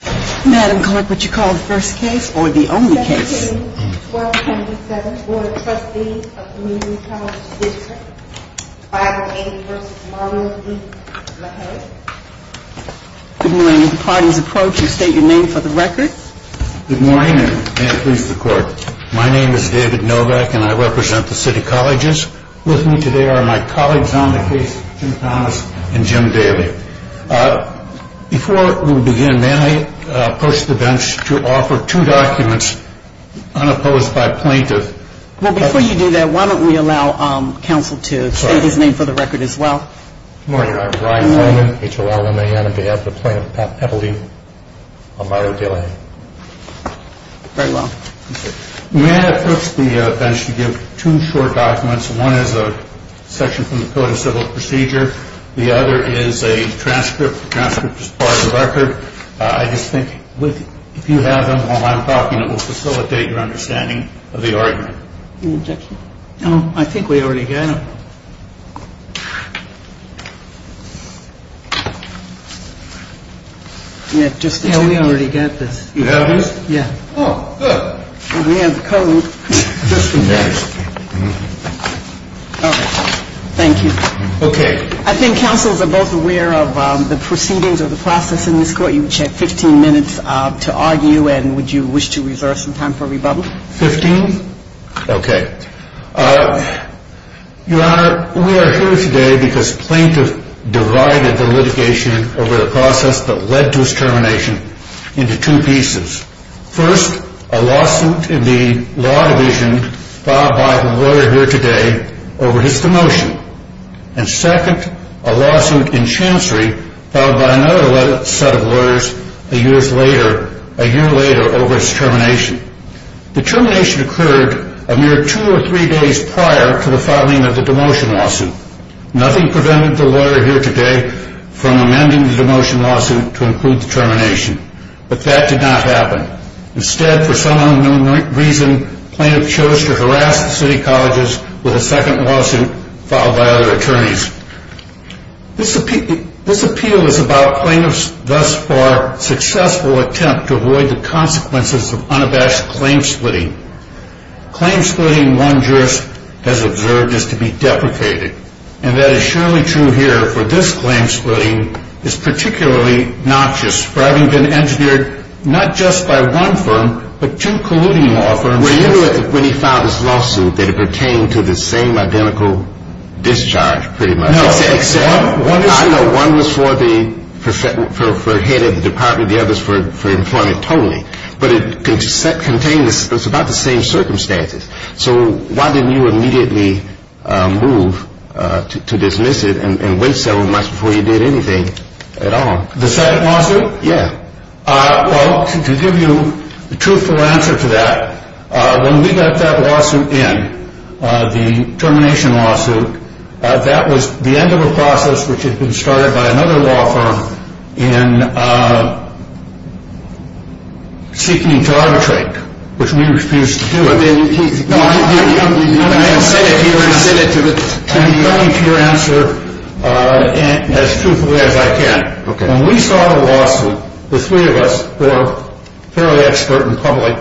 Good morning and may it please the court. My name is David Novak and I represent the City Colleges. With me today are my colleagues on the case, Jim Thomas and Jim Daley. Before we begin, may I ask you to stand and be recognized for the work you do for the community college district? May I approach the bench to offer two documents unopposed by plaintiff? Well, before you do that, why don't we allow counsel to state his name for the record as well? Good morning. I'm Brian Holman, H.O.L. 1A on behalf of Plaintiff Pat Pepplety on Mario De La Haye. Very well. May I approach the bench to give two short documents? One is a section from the Code of Civil Procedure. The other is a transcript as part of the record. I just think if you have them while I'm talking, it will facilitate your understanding of the argument. Any objections? No, I think we already got them. Yeah, we already got this. You have this? Yeah. Oh, good. We have the code just in case. All right. Thank you. Okay. I think counsels are both aware of the proceedings of the process in this court. You have 15 minutes to argue, and would you wish to reserve some time for rebuttal? Fifteen? Okay. Your Honor, we are here today because plaintiff divided the litigation over the process that led to his termination into two pieces. First, a lawsuit in the law division filed by the lawyer here today over his demotion. And second, a lawsuit in Chancery filed by another set of lawyers a year later over his termination. The termination occurred a mere two or three days prior to the filing of the demotion lawsuit. Nothing prevented the lawyer here today from amending the demotion lawsuit to include the termination. But that did not happen. Instead, for some unknown reason, plaintiff chose to harass the city colleges with a second lawsuit filed by other attorneys. This appeal is about plaintiff's thus far successful attempt to avoid the consequences of unabashed claim splitting. Claim splitting, one jurist has observed, is to be deprecated. And that is surely true here for this claim splitting. It's particularly noxious for having been engineered not just by one firm, but two colluding law firms. Well, you know when he filed this lawsuit that it pertained to the same identical discharge, pretty much. No. I know one was for the head of the department, the other's for employment totally. But it contained about the same circumstances. So why didn't you immediately move to dismiss it and wait several months before you did anything at all? The second lawsuit? Yeah. Well, to give you a truthful answer to that, when we got that lawsuit in, the termination lawsuit, that was the end of a process which had been started by another law firm in seeking to arbitrate, which we refused to do. I'm going to send it to you. I'm coming to your answer as truthfully as I can. Okay. When we saw the lawsuit, the three of us, who are fairly expert in public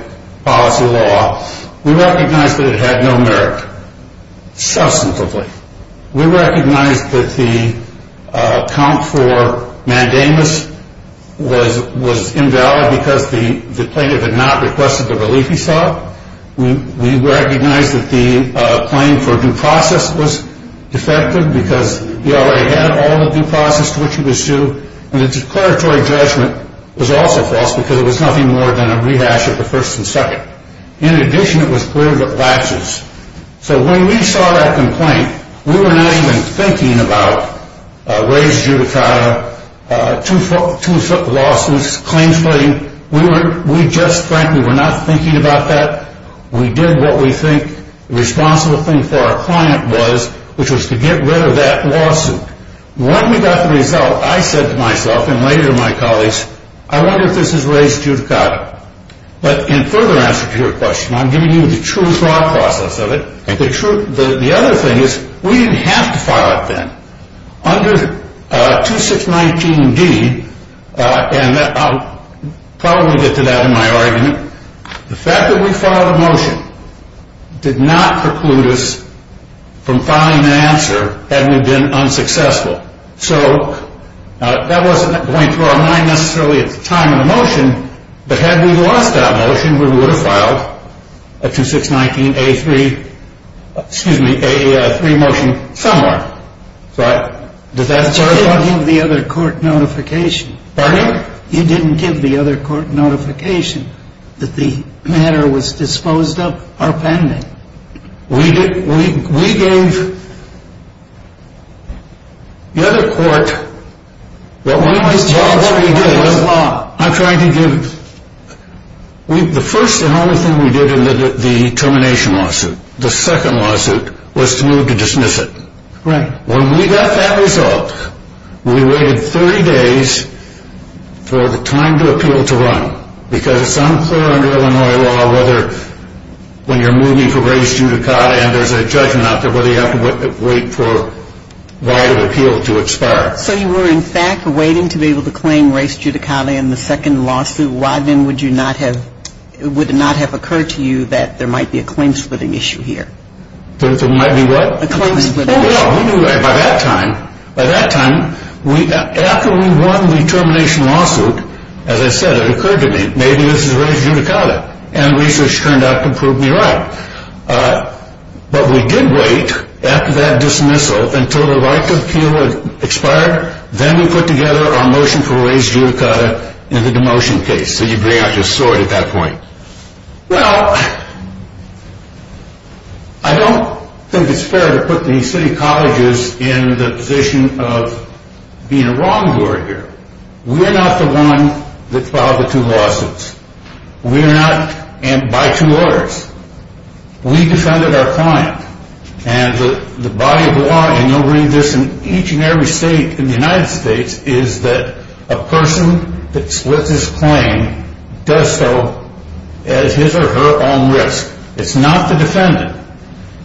policy law, we recognized that it had no merit, substantively. We recognized that the account for mandamus was invalid because the plaintiff had not requested the relief he sought. We recognized that the claim for due process was defective because he already had all the due process to which he was due. And the declaratory judgment was also false because it was nothing more than a rehash of the first and second. In addition, it was cleared with laches. So when we saw that complaint, we were not even thinking about raised judicata, two-foot lawsuits, claims footing. We just frankly were not thinking about that. We did what we think the responsible thing for our client was, which was to get rid of that lawsuit. When we got the result, I said to myself and later to my colleagues, I wonder if this is raised judicata. But in further answer to your question, I'm giving you the true process of it. The other thing is we didn't have to file it then. Under 2619D, and I'll probably get to that in my argument, the fact that we filed a motion did not preclude us from filing an answer had we been unsuccessful. So that wasn't going through our mind necessarily at the time of the motion. But had we lost that motion, we would have filed a 2619A3 motion somewhere. Did that serve? You didn't give the other court notification. Pardon me? You didn't give the other court notification that the matter was disposed of or pending. We gave the other court what we did. I'm trying to give you. The first and only thing we did in the termination lawsuit, the second lawsuit, was to move to dismiss it. Right. When we got that result, we waited 30 days for the time to appeal to run. Because it's unclear under Illinois law whether when you're moving for race judicata and there's a judgment out there whether you have to wait for the right of appeal to expire. So you were in fact waiting to be able to claim race judicata in the second lawsuit. Why then would it not have occurred to you that there might be a claim splitting issue here? There might be what? A claim splitting issue. By that time, after we won the termination lawsuit, as I said, it occurred to me, maybe this is race judicata and research turned out to prove me right. But we did wait after that dismissal until the right to appeal had expired. Then we put together our motion for race judicata in the demotion case. So you bring out your sword at that point. Well, I don't think it's fair to put the city colleges in the position of being a wrongdoer here. We are not the one that filed the two lawsuits. We are not by two orders. We defended our client. And the body of law, and you'll read this in each and every state in the United States, is that a person that splits his claim does so at his or her own risk. It's not the defendant.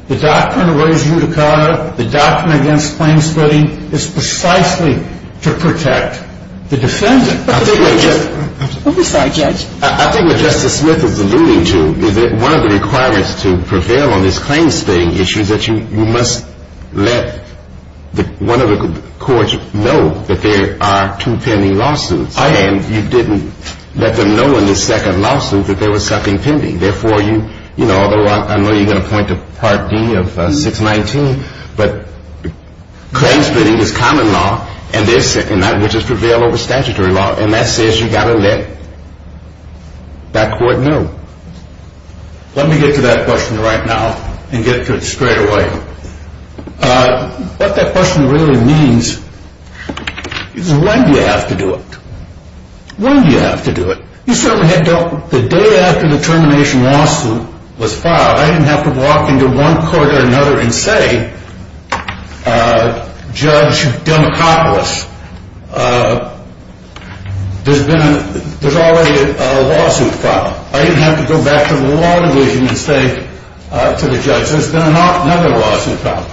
The doctrine of race judicata, the doctrine against claim splitting, is precisely to protect the defendant. I think what Justice Smith is alluding to is that one of the requirements to prevail on this claim splitting issue is that you must let one of the courts know that there are two pending lawsuits, and you didn't let them know in the second lawsuit that there was something pending. Therefore, although I know you're going to point to Part D of 619, but claim splitting is common law, and that which is prevailed over statutory law, and that says you've got to let that court know. Let me get to that question right now and get to it straight away. What that question really means is when do you have to do it? When do you have to do it? The day after the termination lawsuit was filed, I didn't have to walk into one court or another and say, Judge Democopoulos, there's already a lawsuit filed. I didn't have to go back to the law division and say to the judge, there's been another lawsuit filed.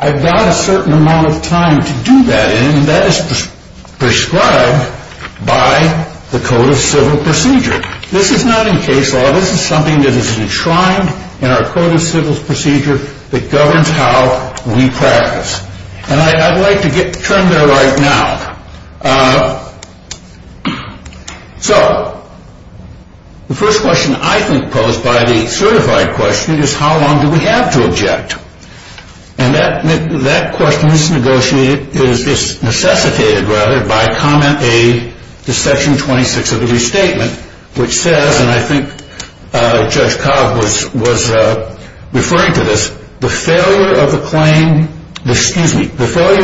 I've got a certain amount of time to do that, and that is prescribed by the Code of Civil Procedure. This is not in case law. This is something that is enshrined in our Code of Civil Procedure that governs how we practice. And I'd like to get to that right now. So the first question I think posed by the certified question is how long do we have to object? And that question is necessitated by Comment A to Section 26 of the Restatement, which says, and I think Judge Cobb was referring to this, the failure of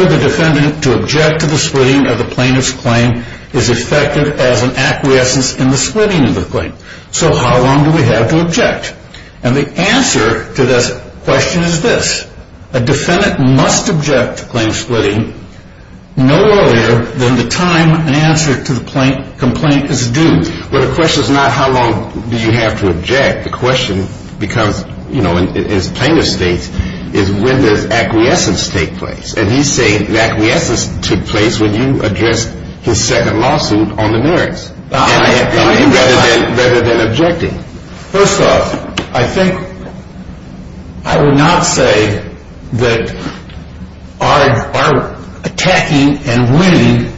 the defendant to object to the splitting of the plaintiff's claim is effective as an acquiescence in the splitting of the claim. So how long do we have to object? And the answer to this question is this. A defendant must object to claim splitting no earlier than the time an answer to the complaint is due. Well, the question is not how long do you have to object. The question, because, you know, as plaintiff states, is when does acquiescence take place? And he's saying the acquiescence took place when you addressed his second lawsuit on the merits rather than objecting. First off, I think I would not say that our attacking and winning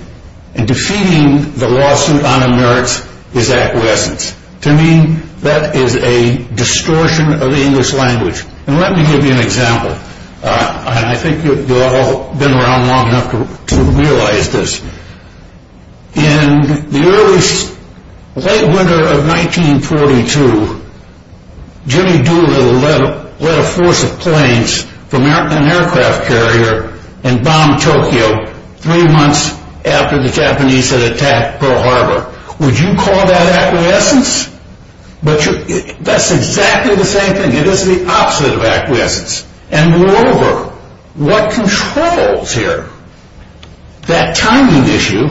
and defeating the lawsuit on the merits is acquiescence. To me, that is a distortion of the English language. And let me give you an example, and I think you've all been around long enough to realize this. In the early, late winter of 1942, Jimmy Doolittle led a force of planes from an aircraft carrier and bombed Tokyo three months after the Japanese had attacked Pearl Harbor. Would you call that acquiescence? That's exactly the same thing. It is the opposite of acquiescence. And moreover, what controls here, that timing issue,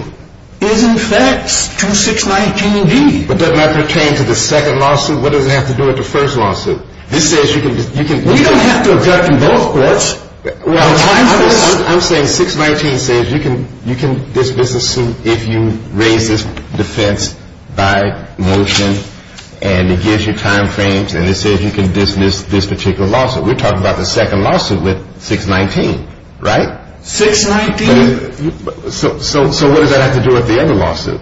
is in fact to 619-B. But doesn't that pertain to the second lawsuit? What does it have to do with the first lawsuit? This says you can – We don't have to object in both courts. I'm saying 619 says you can dismiss a suit if you raise this defense by motion and it gives you timeframes and it says you can dismiss this particular lawsuit. We're talking about the second lawsuit with 619, right? 619 – So what does that have to do with the other lawsuit?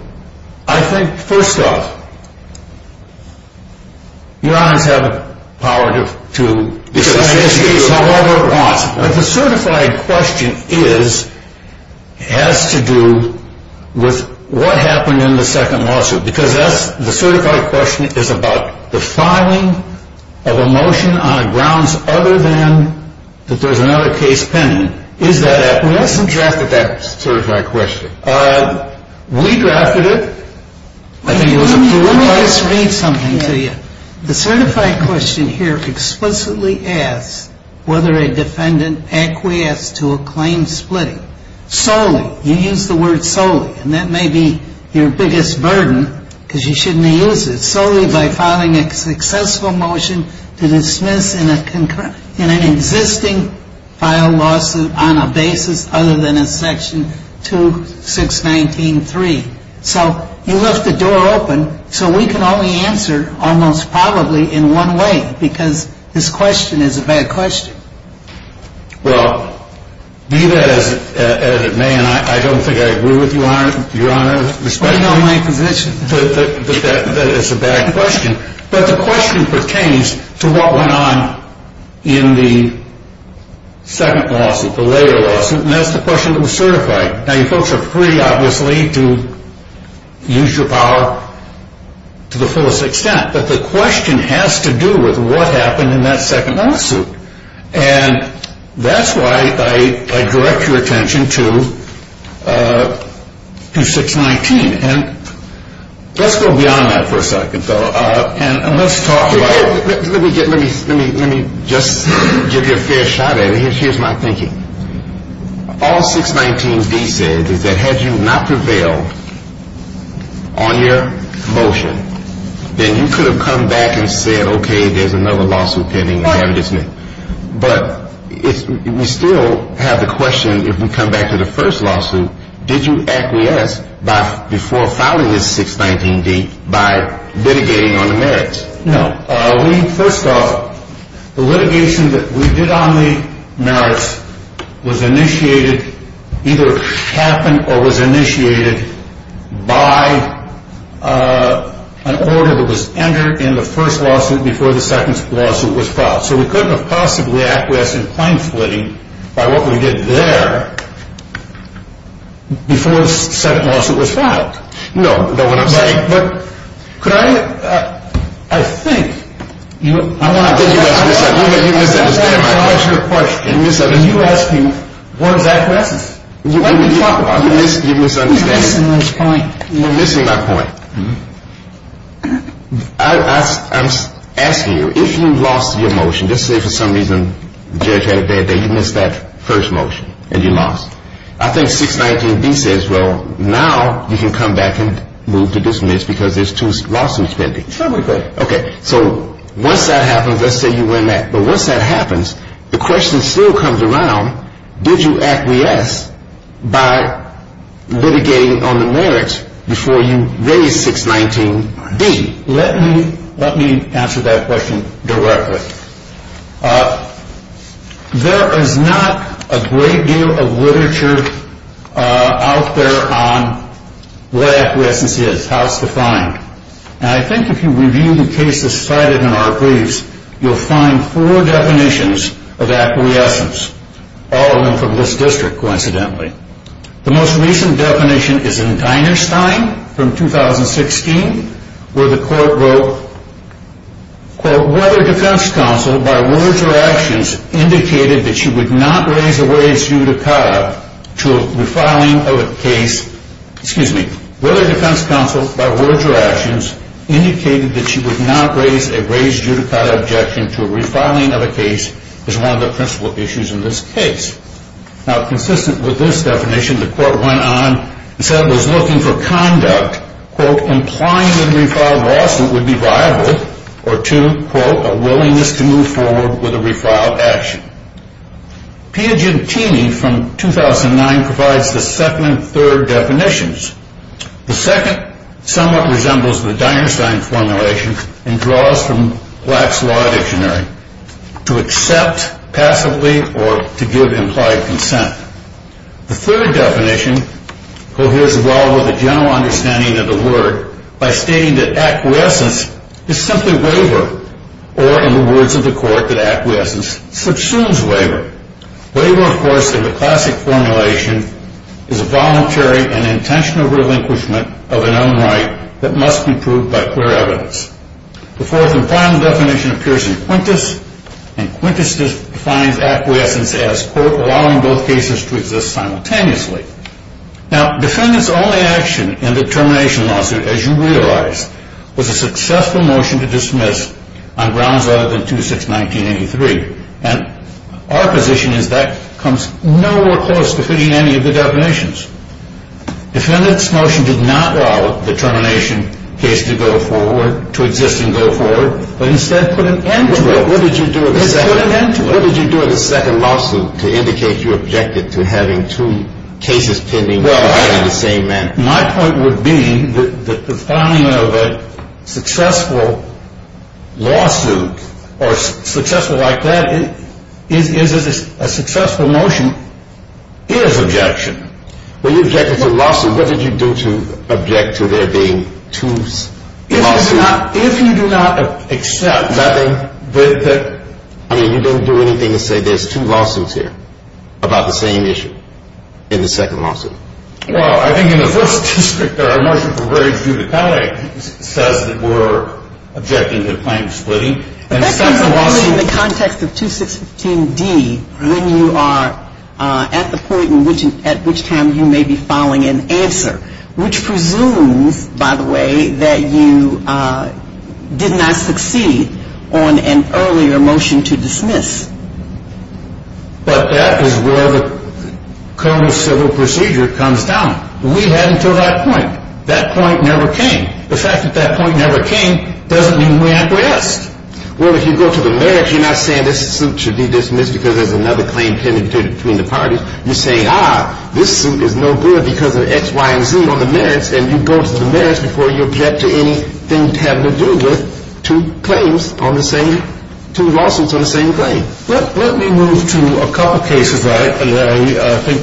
I think, first off, your honors have the power to – The certified question is – has to do with what happened in the second lawsuit. Because the certified question is about the filing of a motion on grounds other than that there's another case pending. Is that – We haven't drafted that certified question. We drafted it. Let me just read something to you. The certified question here explicitly asks whether a defendant acquiesced to a claim splitting solely. You use the word solely. And that may be your biggest burden because you shouldn't have used it. Solely by filing a successful motion to dismiss in an existing filed lawsuit on a basis other than in section 2619-3. So you left the door open so we can only answer almost probably in one way because this question is a bad question. Well, be that as it may, and I don't think I agree with you, your honors. I know my position. That it's a bad question. But the question pertains to what went on in the second lawsuit, the later lawsuit. And that's the question that was certified. Now, you folks are free, obviously, to use your power to the fullest extent. But the question has to do with what happened in that second lawsuit. And that's why I direct your attention to 619. And let's go beyond that for a second, though. And let's talk about – Let me just give you a fair shot at it. Here's my thinking. All 619-D says is that had you not prevailed on your motion, then you could have come back and said, okay, there's another lawsuit pending and have it dismissed. But we still have the question, if we come back to the first lawsuit, did you acquiesce before filing this 619-D by litigating on the merits? No. First off, the litigation that we did on the merits was initiated – either happened or was initiated by an order that was entered in the first lawsuit before the second lawsuit was filed. So we couldn't have possibly acquiesced in plain flitting by what we did there before the second lawsuit was filed. No. But what I'm saying – But could I – I think – I think you misunderstand my question. Can you ask me one exact question? You're misunderstanding – You're missing my point. You're missing my point. I'm asking you, if you lost your motion, let's say for some reason the judge had a bad day, you missed that first motion and you lost. I think 619-D says, well, now you can come back and move to dismiss because there's two lawsuits pending. So we could. Okay. So once that happens, let's say you win that. But once that happens, the question still comes around, did you acquiesce by litigating on the merits before you raise 619-D? Let me answer that question directly. There is not a great deal of literature out there on what acquiescence is, how it's defined. And I think if you review the cases cited in our briefs, you'll find four definitions of acquiescence, all of them from this district, coincidentally. The most recent definition is in Deinerstein from 2016, where the court wrote, the court went on and said it was looking for conduct, quote, implying that a refiled lawsuit would be rivaled or to, quote, a willingness to move forward with a refiled action. Piagentini from 2009 provides the second and third definitions. The second somewhat resembles the Deinerstein formulation and draws from Black's Law Dictionary, to accept passively or to give implied consent. The third definition coheres well with the general understanding of the word by stating that acquiescence is simply waiver, or in the words of the court, that acquiescence subsumes waiver. Waiver, of course, in the classic formulation, is a voluntary and intentional relinquishment of an unright that must be proved by clear evidence. The fourth and final definition appears in Quintus, and Quintus defines acquiescence as, quote, allowing both cases to exist simultaneously. Now, defendant's only action in the termination lawsuit, as you realize, was a successful motion to dismiss on grounds other than 2-6-1983, and our position is that comes no more close to fitting any of the definitions. Defendant's motion did not allow the termination case to go forward, to exist and go forward, but instead put an end to it. What did you do in the second lawsuit to indicate you objected to having two cases pending in the same manner? Well, my point would be that the finding of a successful lawsuit, or successful like that, is a successful motion, is objection. When you objected to a lawsuit, what did you do to object to there being two lawsuits? If you do not accept that they, that, I mean, you didn't do anything to say there's two lawsuits here about the same issue in the second lawsuit. Well, I think in the first district, our motion from Braves v. McCulloch says that we're objecting to the claim of splitting. But that comes up only in the context of 2-6-15-D when you are at the point at which time you may be filing an answer, which presumes, by the way, that you did not succeed on an earlier motion to dismiss. But that is where the criminal civil procedure comes down. We had until that point. That point never came. The fact that that point never came doesn't mean we're at rest. Well, if you go to the merits, you're not saying this suit should be dismissed because there's another claim pending between the parties. You're saying, ah, this suit is no good because of X, Y, and Z on the merits. And you go to the merits before you object to anything having to do with two claims on the same, two lawsuits on the same claim. Let me move to a couple of cases that I think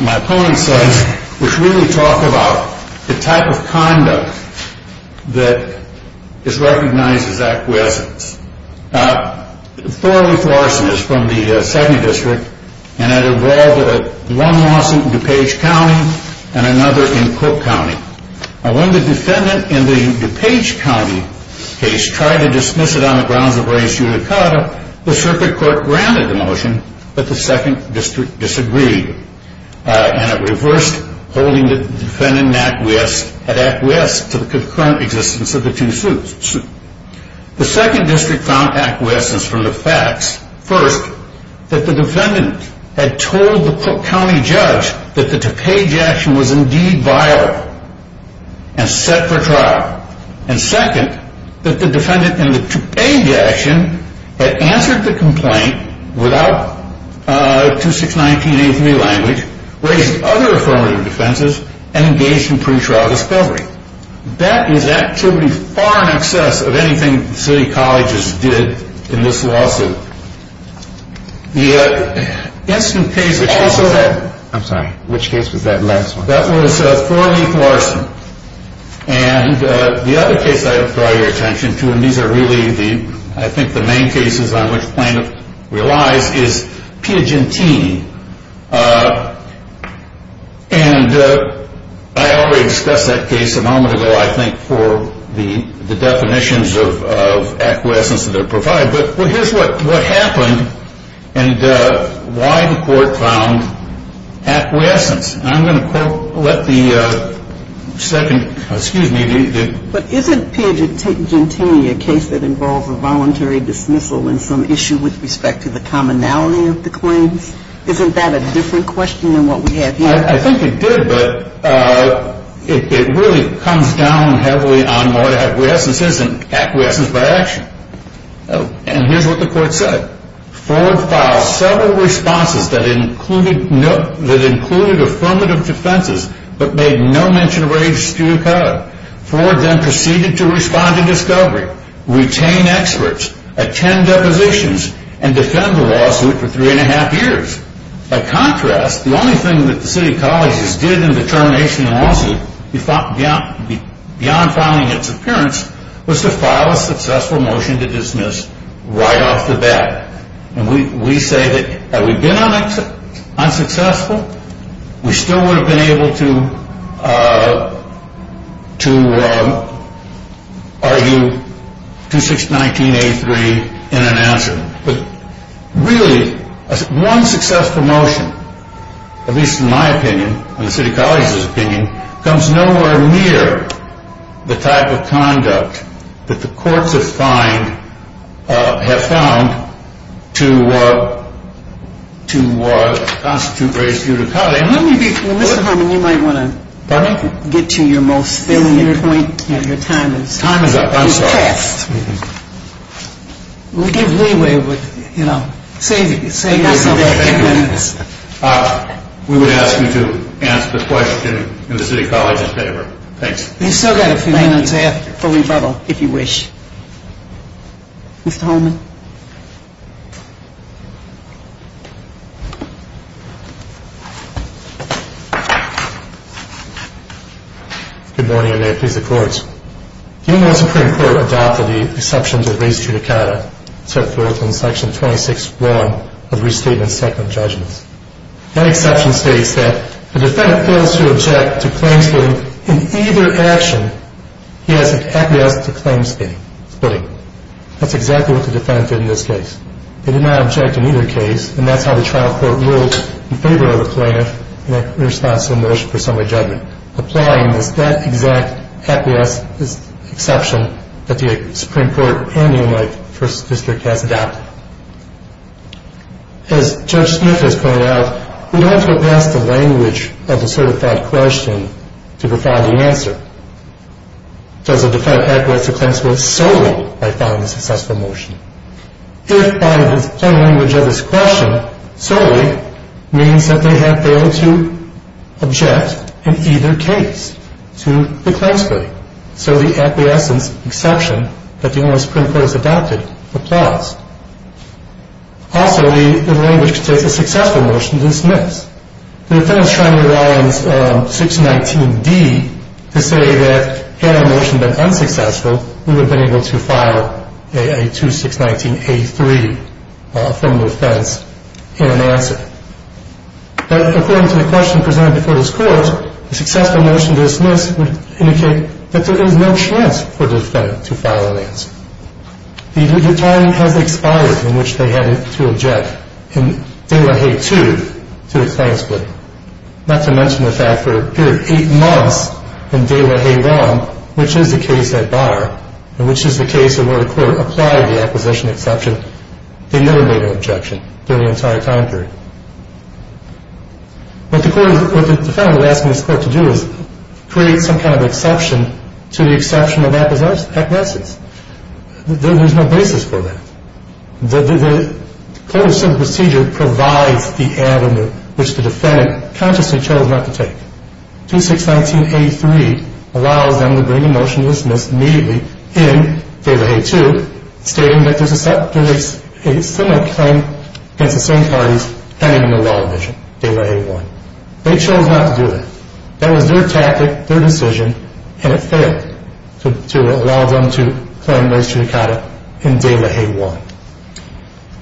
my opponent says, which really talk about the type of conduct that is recognized as acquiescence. Thorley Forreston is from the second district. And it involved one lawsuit in DuPage County and another in Cook County. Now, when the defendant in the DuPage County case tried to dismiss it on the grounds of race unicada, the circuit court granted the motion, but the second district disagreed. And it reversed holding the defendant in acquiescence to the concurrent existence of the two suits. The second district found acquiescence from the facts. First, that the defendant had told the Cook County judge that the DuPage action was indeed vile and set for trial. And second, that the defendant in the DuPage action had answered the complaint without 2619A3 language, raised other affirmative defenses, and engaged in pretrial discovery. That is actually far in excess of anything the city colleges did in this lawsuit. The instant case which also had- I'm sorry, which case was that last one? That was Thorley Forreston. And the other case I would draw your attention to, and these are really, I think, the main cases on which plaintiff relies, is Piagentini. And I already discussed that case a moment ago, I think, for the definitions of acquiescence that are provided. But here's what happened and why the court found acquiescence. And I'm going to let the second- Excuse me. But isn't Piagentini a case that involves a voluntary dismissal and some issue with respect to the commonality of the claims? Isn't that a different question than what we have here? I think it did, but it really comes down heavily on what acquiescence is and acquiescence by action. And here's what the court said. Ford filed several responses that included affirmative defenses, but made no mention or raised due code. Ford then proceeded to respond to discovery, retain experts, attend depositions, and defend the lawsuit for three and a half years. By contrast, the only thing that the city colleges did in the termination of the lawsuit, beyond filing its appearance, was to file a successful motion to dismiss right off the bat. And we say that had we been unsuccessful, we still would have been able to argue 2619A3 in an answer. But really, one successful motion, at least in my opinion and the city colleges' opinion, comes nowhere near the type of conduct that the courts have found to constitute raised due to code. And let me be clear. Mr. Harmon, you might want to get to your most salient point. Your time is up. Time is up. I'm sorry. It's past. We'll give leeway, but, you know, save yourself a few minutes. We would ask you to answer the question in the city colleges' favor. Thanks. You've still got a few minutes left for rebuttal, if you wish. Mr. Harmon? Good morning, and may it please the courts. The University Supreme Court adopted the exceptions of raised due to code, set forth in Section 26-1 of Restatement Second of Judgments. That exception states that the defendant fails to object to claim splitting in either action. He has an acquiescence to claim splitting. That's exactly what the defendant did in this case. He did not object in either case, and that's how the trial court ruled in favor of the plaintiff in a response to the motion for summary judgment, applying that exact acquiescence exception that the Supreme Court and the United States First District has adopted. As Judge Smith has pointed out, we don't have to advance the language of the certified question to provide the answer. Does the defendant acquiesce to claim split solely by following the successful motion? If, by the plain language of this question, solely means that they have failed to object in either case to the claim splitting, so the acquiescence exception that the University Supreme Court has adopted applies. Also, the language states a successful motion to dismiss. The defendant is trying to rely on 619-D to say that had a motion been unsuccessful, we would have been able to file a 2619-A3 from the defense in an answer. According to the question presented before this court, a successful motion to dismiss would indicate that there is no chance for the defendant to file an answer. The time has expired in which they had to object in De La Haye 2 to a claim splitting, not to mention the fact that for a period of 8 months in De La Haye 1, which is the case at bar and which is the case in which the court applied the acquisition exception, they never made an objection during the entire time period. What the defendant is asking this court to do is create some kind of exception to the exception of acquiescence. There is no basis for that. The coercive procedure provides the avenue which the defendant consciously chose not to take. 2619-A3 allows them to bring a motion to dismiss immediately in De La Haye 2, stating that there is a similar claim against the same parties pending in the law division, De La Haye 1. They chose not to do that. That was their tactic, their decision, and it failed to allow them to claim restriction in De La Haye 1.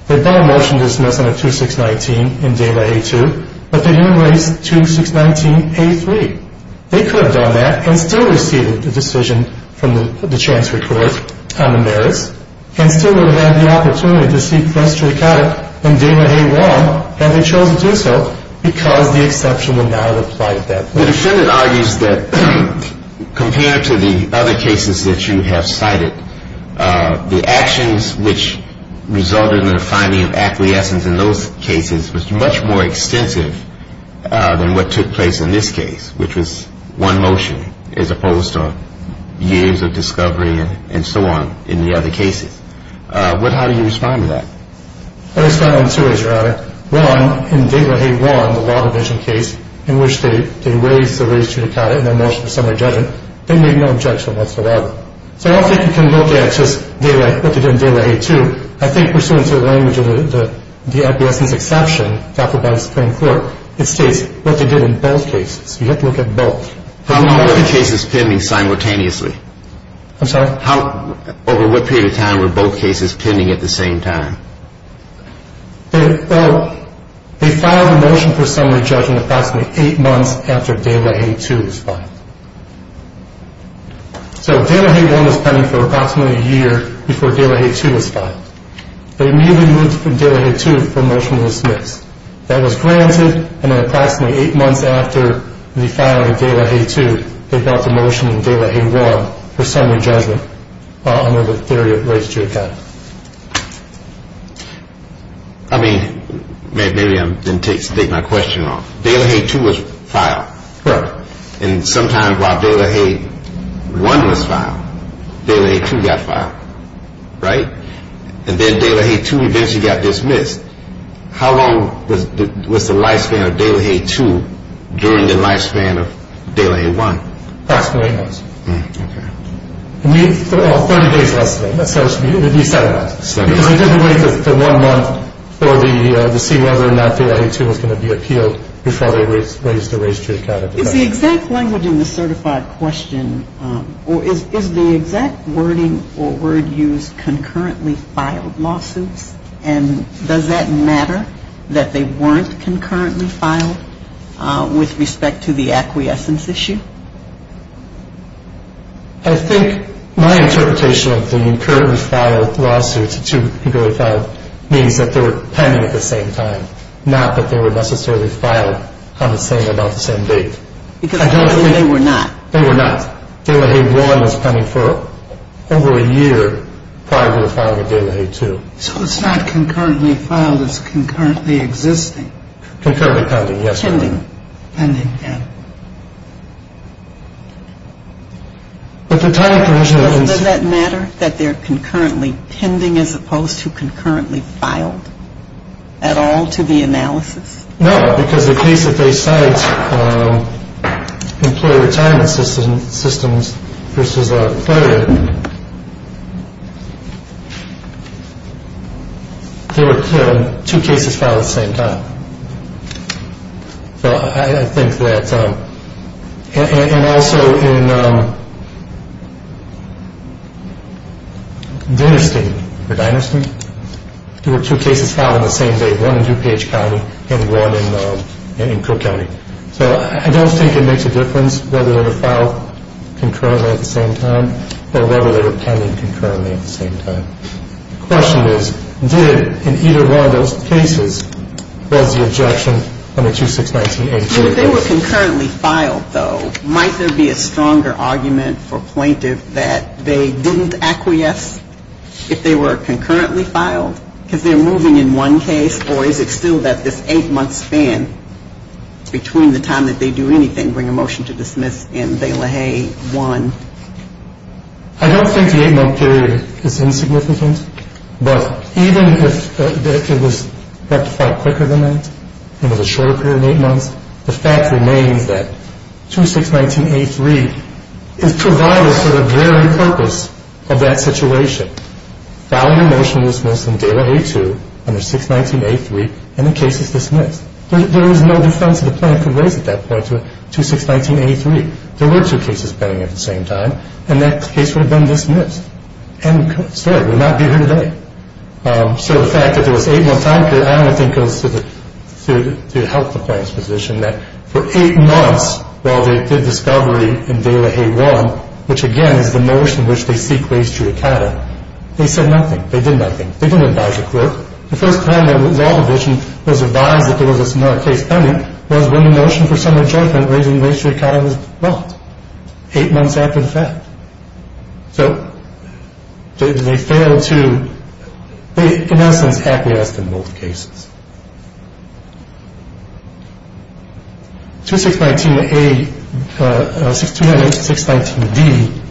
They filed a motion to dismiss under 2619 in De La Haye 2, but they didn't raise 2619-A3. They could have done that and still received the decision from the transfer court on the merits and still would have had the opportunity to seek restriction in De La Haye 1 had they chosen to do so because the exception would not have applied at that point. The defendant argues that compared to the other cases that you have cited, the actions which resulted in the finding of acquiescence in those cases was much more extensive than what took place in this case, which was one motion as opposed to years of discovery and so on in the other cases. How do you respond to that? I respond in two ways, Your Honor. One, in De La Haye 1, the law division case, in which they raised the raised judicata in their motion for summary judgment, they made no objection whatsoever. So I don't think you can look at just what they did in De La Haye 2. I think pursuant to the language of the acquiescence exception adopted by the Supreme Court, it states what they did in both cases. You have to look at both. How long were the cases pending simultaneously? I'm sorry? Over what period of time were both cases pending at the same time? They filed a motion for summary judgment approximately eight months after De La Haye 2 was filed. So De La Haye 1 was pending for approximately a year before De La Haye 2 was filed. They immediately moved from De La Haye 2 for motion to dismiss. That was granted, and then approximately eight months after the filing of De La Haye 2, they brought the motion in De La Haye 1 for summary judgment under the theory of raised judicata. I mean, maybe I'm going to take my question wrong. De La Haye 2 was filed. Correct. And sometimes while De La Haye 1 was filed, De La Haye 2 got filed, right? And then De La Haye 2 eventually got dismissed. How long was the lifespan of De La Haye 2 during the lifespan of De La Haye 1? Approximately eight months. Okay. Well, 30 days less than that. Because they didn't wait for one month to see whether or not De La Haye 2 was going to be appealed before they raised the raised judicata. Is the exact language in the certified question, or is the exact wording or word used concurrently filed lawsuits, and does that matter that they weren't concurrently filed with respect to the acquiescence issue? I think my interpretation of the concurrently filed lawsuits, the two concurrently filed, means that they were pending at the same time, not that they were necessarily filed on the same, about the same date. Because apparently they were not. They were not. De La Haye 1 was pending for over a year prior to the filing of De La Haye 2. So it's not concurrently filed, it's concurrently existing. Concurrently pending, yes. Does that matter that they're concurrently pending as opposed to concurrently filed at all to the analysis? No, because the case that they cite, employer retirement systems versus a credit union, they were two cases filed at the same time. So I think that, and also in Dinerstein, there were two cases filed on the same date, one in DuPage County and one in Cook County. So I don't think it makes a difference whether they were filed concurrently at the same time or whether they were pending concurrently at the same time. The question is, did, in either one of those cases, was the objection on the 2619A2? If they were concurrently filed, though, might there be a stronger argument for plaintiff that they didn't acquiesce if they were concurrently filed because they're moving in one case, or is it still that this eight-month span between the time that they do anything, bring a motion to dismiss, and De La Haye 1? I don't think the eight-month period is insignificant, but even if it was rectified quicker than that and was a shorter period than eight months, the fact remains that 2619A3 is provided for the very purpose of that situation. Filing a motion to dismiss in De La Haye 2 under 619A3 and the case is dismissed. There is no defense that the plaintiff could raise at that point to 2619A3. There were two cases pending at the same time, and that case would have been dismissed, and the story would not be here today. So the fact that there was an eight-month time period, I don't think it was to help the plaintiff's position that for eight months while they did discovery in De La Haye 1, which, again, is the motion in which they seek race juricata, they said nothing. They did nothing. They didn't advise the court. The first time that the law division was advised that there was another case pending was when the motion for summary judgment raising race juricata was dropped eight months after the fact. So they failed to, in essence, acquiesce in both cases. 2619A, 2619D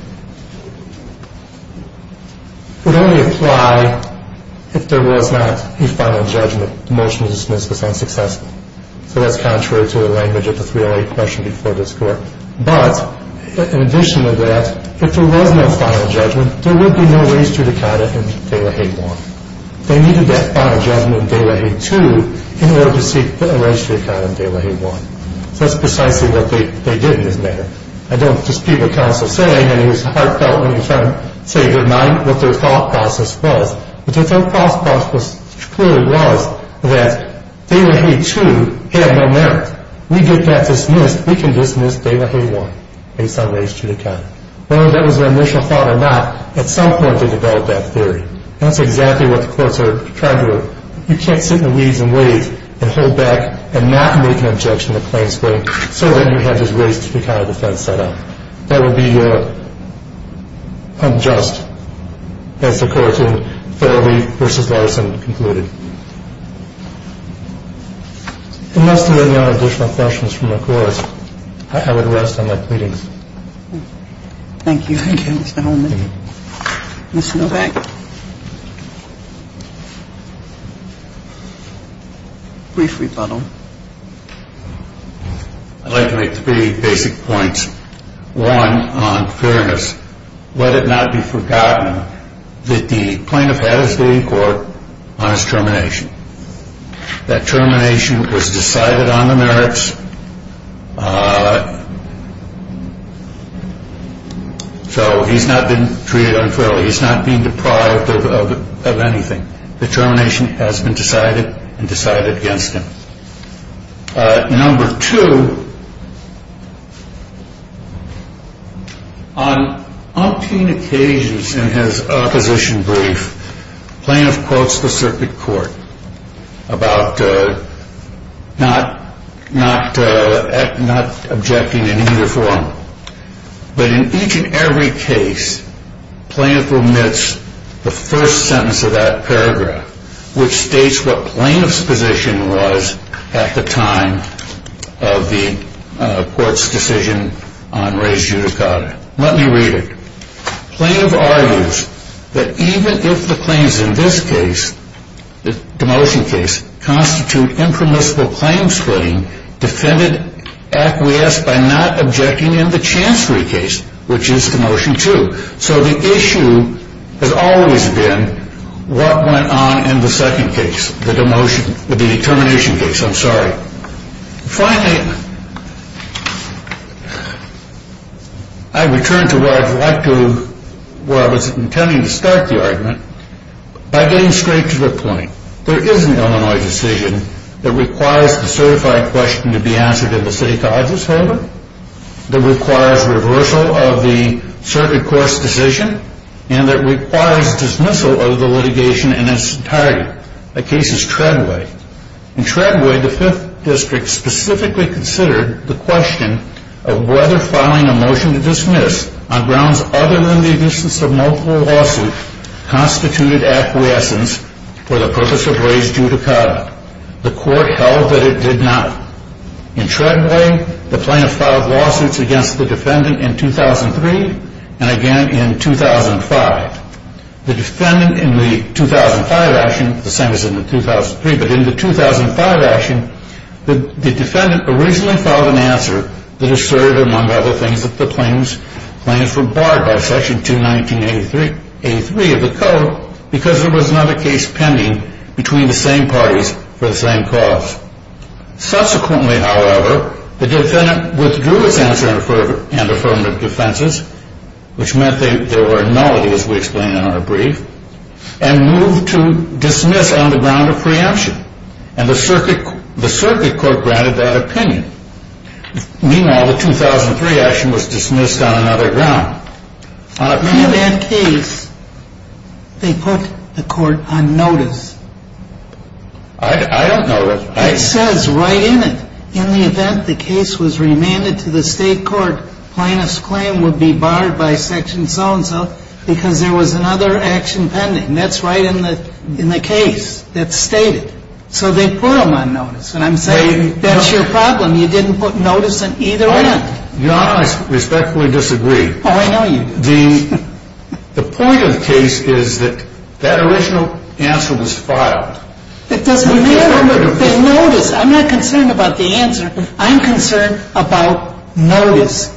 would only apply if there was not a final judgment. The motion to dismiss was unsuccessful. So that's contrary to the language of the 308 question before this court. But in addition to that, if there was no final judgment, there would be no race juricata in De La Haye 1. They needed that final judgment in De La Haye 2 in order to seek race juricata in De La Haye 1. So that's precisely what they did in this matter. I don't dispute what counsel is saying, and it is heartfelt when you try to say in your mind what their thought process was. But their thought process clearly was that De La Haye 2 had no merit. We get that dismissed. We can dismiss De La Haye 1 based on race juricata. Whether that was their initial thought or not, at some point they developed that theory. That's exactly what the courts are trying to do. You can't sit in the weeds and wait and hold back and not make an objection to plain suing so that you have this race juricata defense set up. That would be unjust, as the court in Farrelly v. Larson concluded. Unless there are any other additional questions from the court, I would rest on my pleadings. Thank you. Thank you, Mr. Holman. Ms. Novak? Brief rebuttal. I'd like to make three basic points. One on fairness. Let it not be forgotten that the plaintiff had his day in court on his termination. That termination was decided on the merits. So he's not been treated unfairly. He's not been deprived of anything. The termination has been decided and decided against him. Number two, on umpteen occasions in his opposition brief, plaintiff quotes the circuit court about not objecting in either form. But in each and every case, plaintiff omits the first sentence of that paragraph, which states what plaintiff's position was at the time of the court's decision on race juricata. Let me read it. Plaintiff argues that even if the claims in this case, the demotion case, constitute impermissible claim splitting, defendant acquiesced by not objecting in the chancery case, which is demotion two. So the issue has always been what went on in the second case, the termination case. I'm sorry. Finally, I return to where I was intending to start the argument by getting straight to the point. There is an Illinois decision that requires the certified question to be answered in the city college's favor, that requires reversal of the circuit court's decision, and that requires dismissal of the litigation in its entirety. The case is Treadway. In Treadway, the Fifth District specifically considered the question of whether filing a motion to dismiss on grounds other than the existence of multiple lawsuits constituted acquiescence for the purpose of race juricata. The court held that it did not. In Treadway, the plaintiff filed lawsuits against the defendant in 2003 and again in 2005. The defendant in the 2005 action, the same as in the 2003, but in the 2005 action, the defendant originally filed an answer that asserted, among other things, that the claims were barred by section 219A3 of the code because there was not a case pending between the same parties for the same cause. Subsequently, however, the defendant withdrew his answer and affirmative defenses, which meant they were nullity, as we explained in our brief, and moved to dismiss on the ground of preemption, and the circuit court granted that opinion. Meanwhile, the 2003 action was dismissed on another ground. In that case, they put the court on notice. I don't know. It says right in it, and I'm saying that's your problem. You didn't put notice on either end. Your Honor, I respectfully disagree. Oh, I know you do. The point of the case is that that original answer was filed. It doesn't matter. They noticed.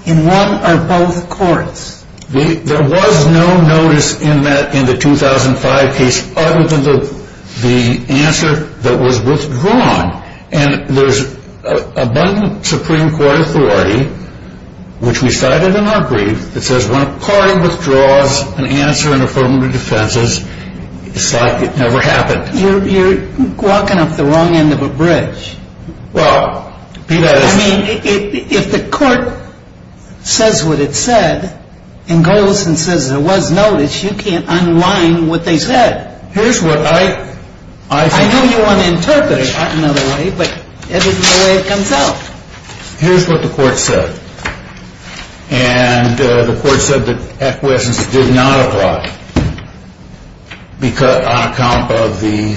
in one or both courts. There was no notice in the 2005 case other than the answer that was withdrawn, and there's abundant Supreme Court authority, which we cited in our brief, that says when a party withdraws an answer in affirmative defenses, it's like it never happened. You're walking up the wrong end of a bridge. Well, Peter, that is. I mean, if the court says what it said and goes and says there was notice, you can't unwind what they said. Here's what I think. I know you want to interpret it another way, but it isn't the way it comes out. Here's what the court said, and the court said that acquiescence did not apply on account of the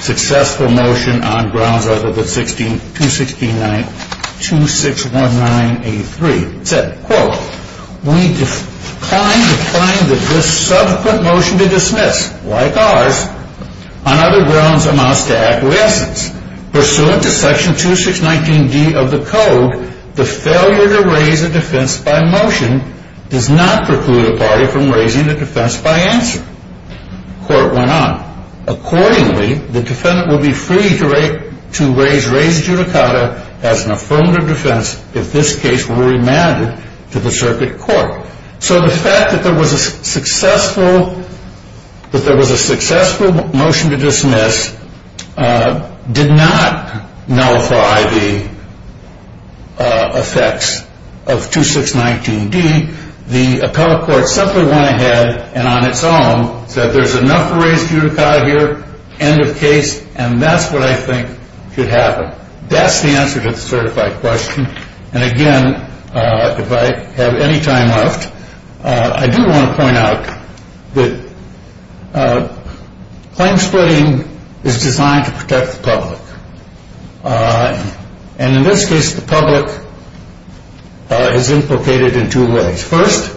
successful motion on grounds other than 2619A3. It said, quote, we declined to find that this subsequent motion to dismiss, like ours, on other grounds amounts to acquiescence. Pursuant to section 2619D of the code, the failure to raise a defense by motion does not preclude a party from raising a defense by answer. The court went on. Accordingly, the defendant will be free to raise judicata as an affirmative defense if this case were remanded to the circuit court. So the fact that there was a successful motion to dismiss did not nullify the effects of 2619D. The appellate court simply went ahead and on its own said there's enough to raise judicata here, end of case, and that's what I think should happen. That's the answer to the certified question. And again, if I have any time left, I do want to point out that claim splitting is designed to protect the public. And in this case, the public is implicated in two ways. First,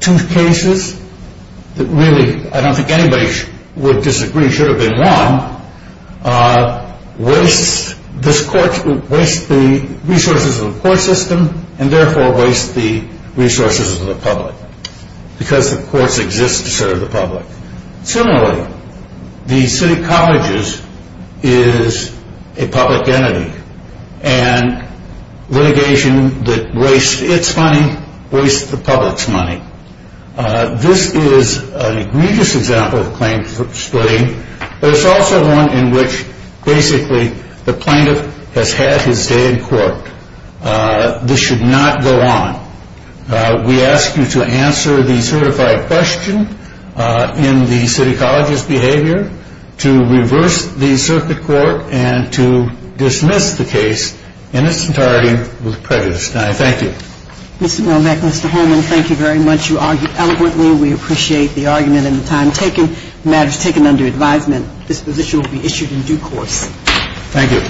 two cases that really I don't think anybody would disagree should have been won, wastes the resources of the court system and therefore wastes the resources of the public because the courts exist to serve the public. Similarly, the city colleges is a public entity. And litigation that wastes its money wastes the public's money. This is an egregious example of claim splitting, but it's also one in which basically the plaintiff has had his day in court. This should not go on. We ask you to answer the certified question in the city college's behavior, to reverse the circuit court, and to dismiss the case in its entirety with prejudice. Thank you. Mr. Mormack, Mr. Holman, thank you very much. You argued eloquently. We appreciate the argument and the time taken. The matter is taken under advisement. This position will be issued in due course. Thank you.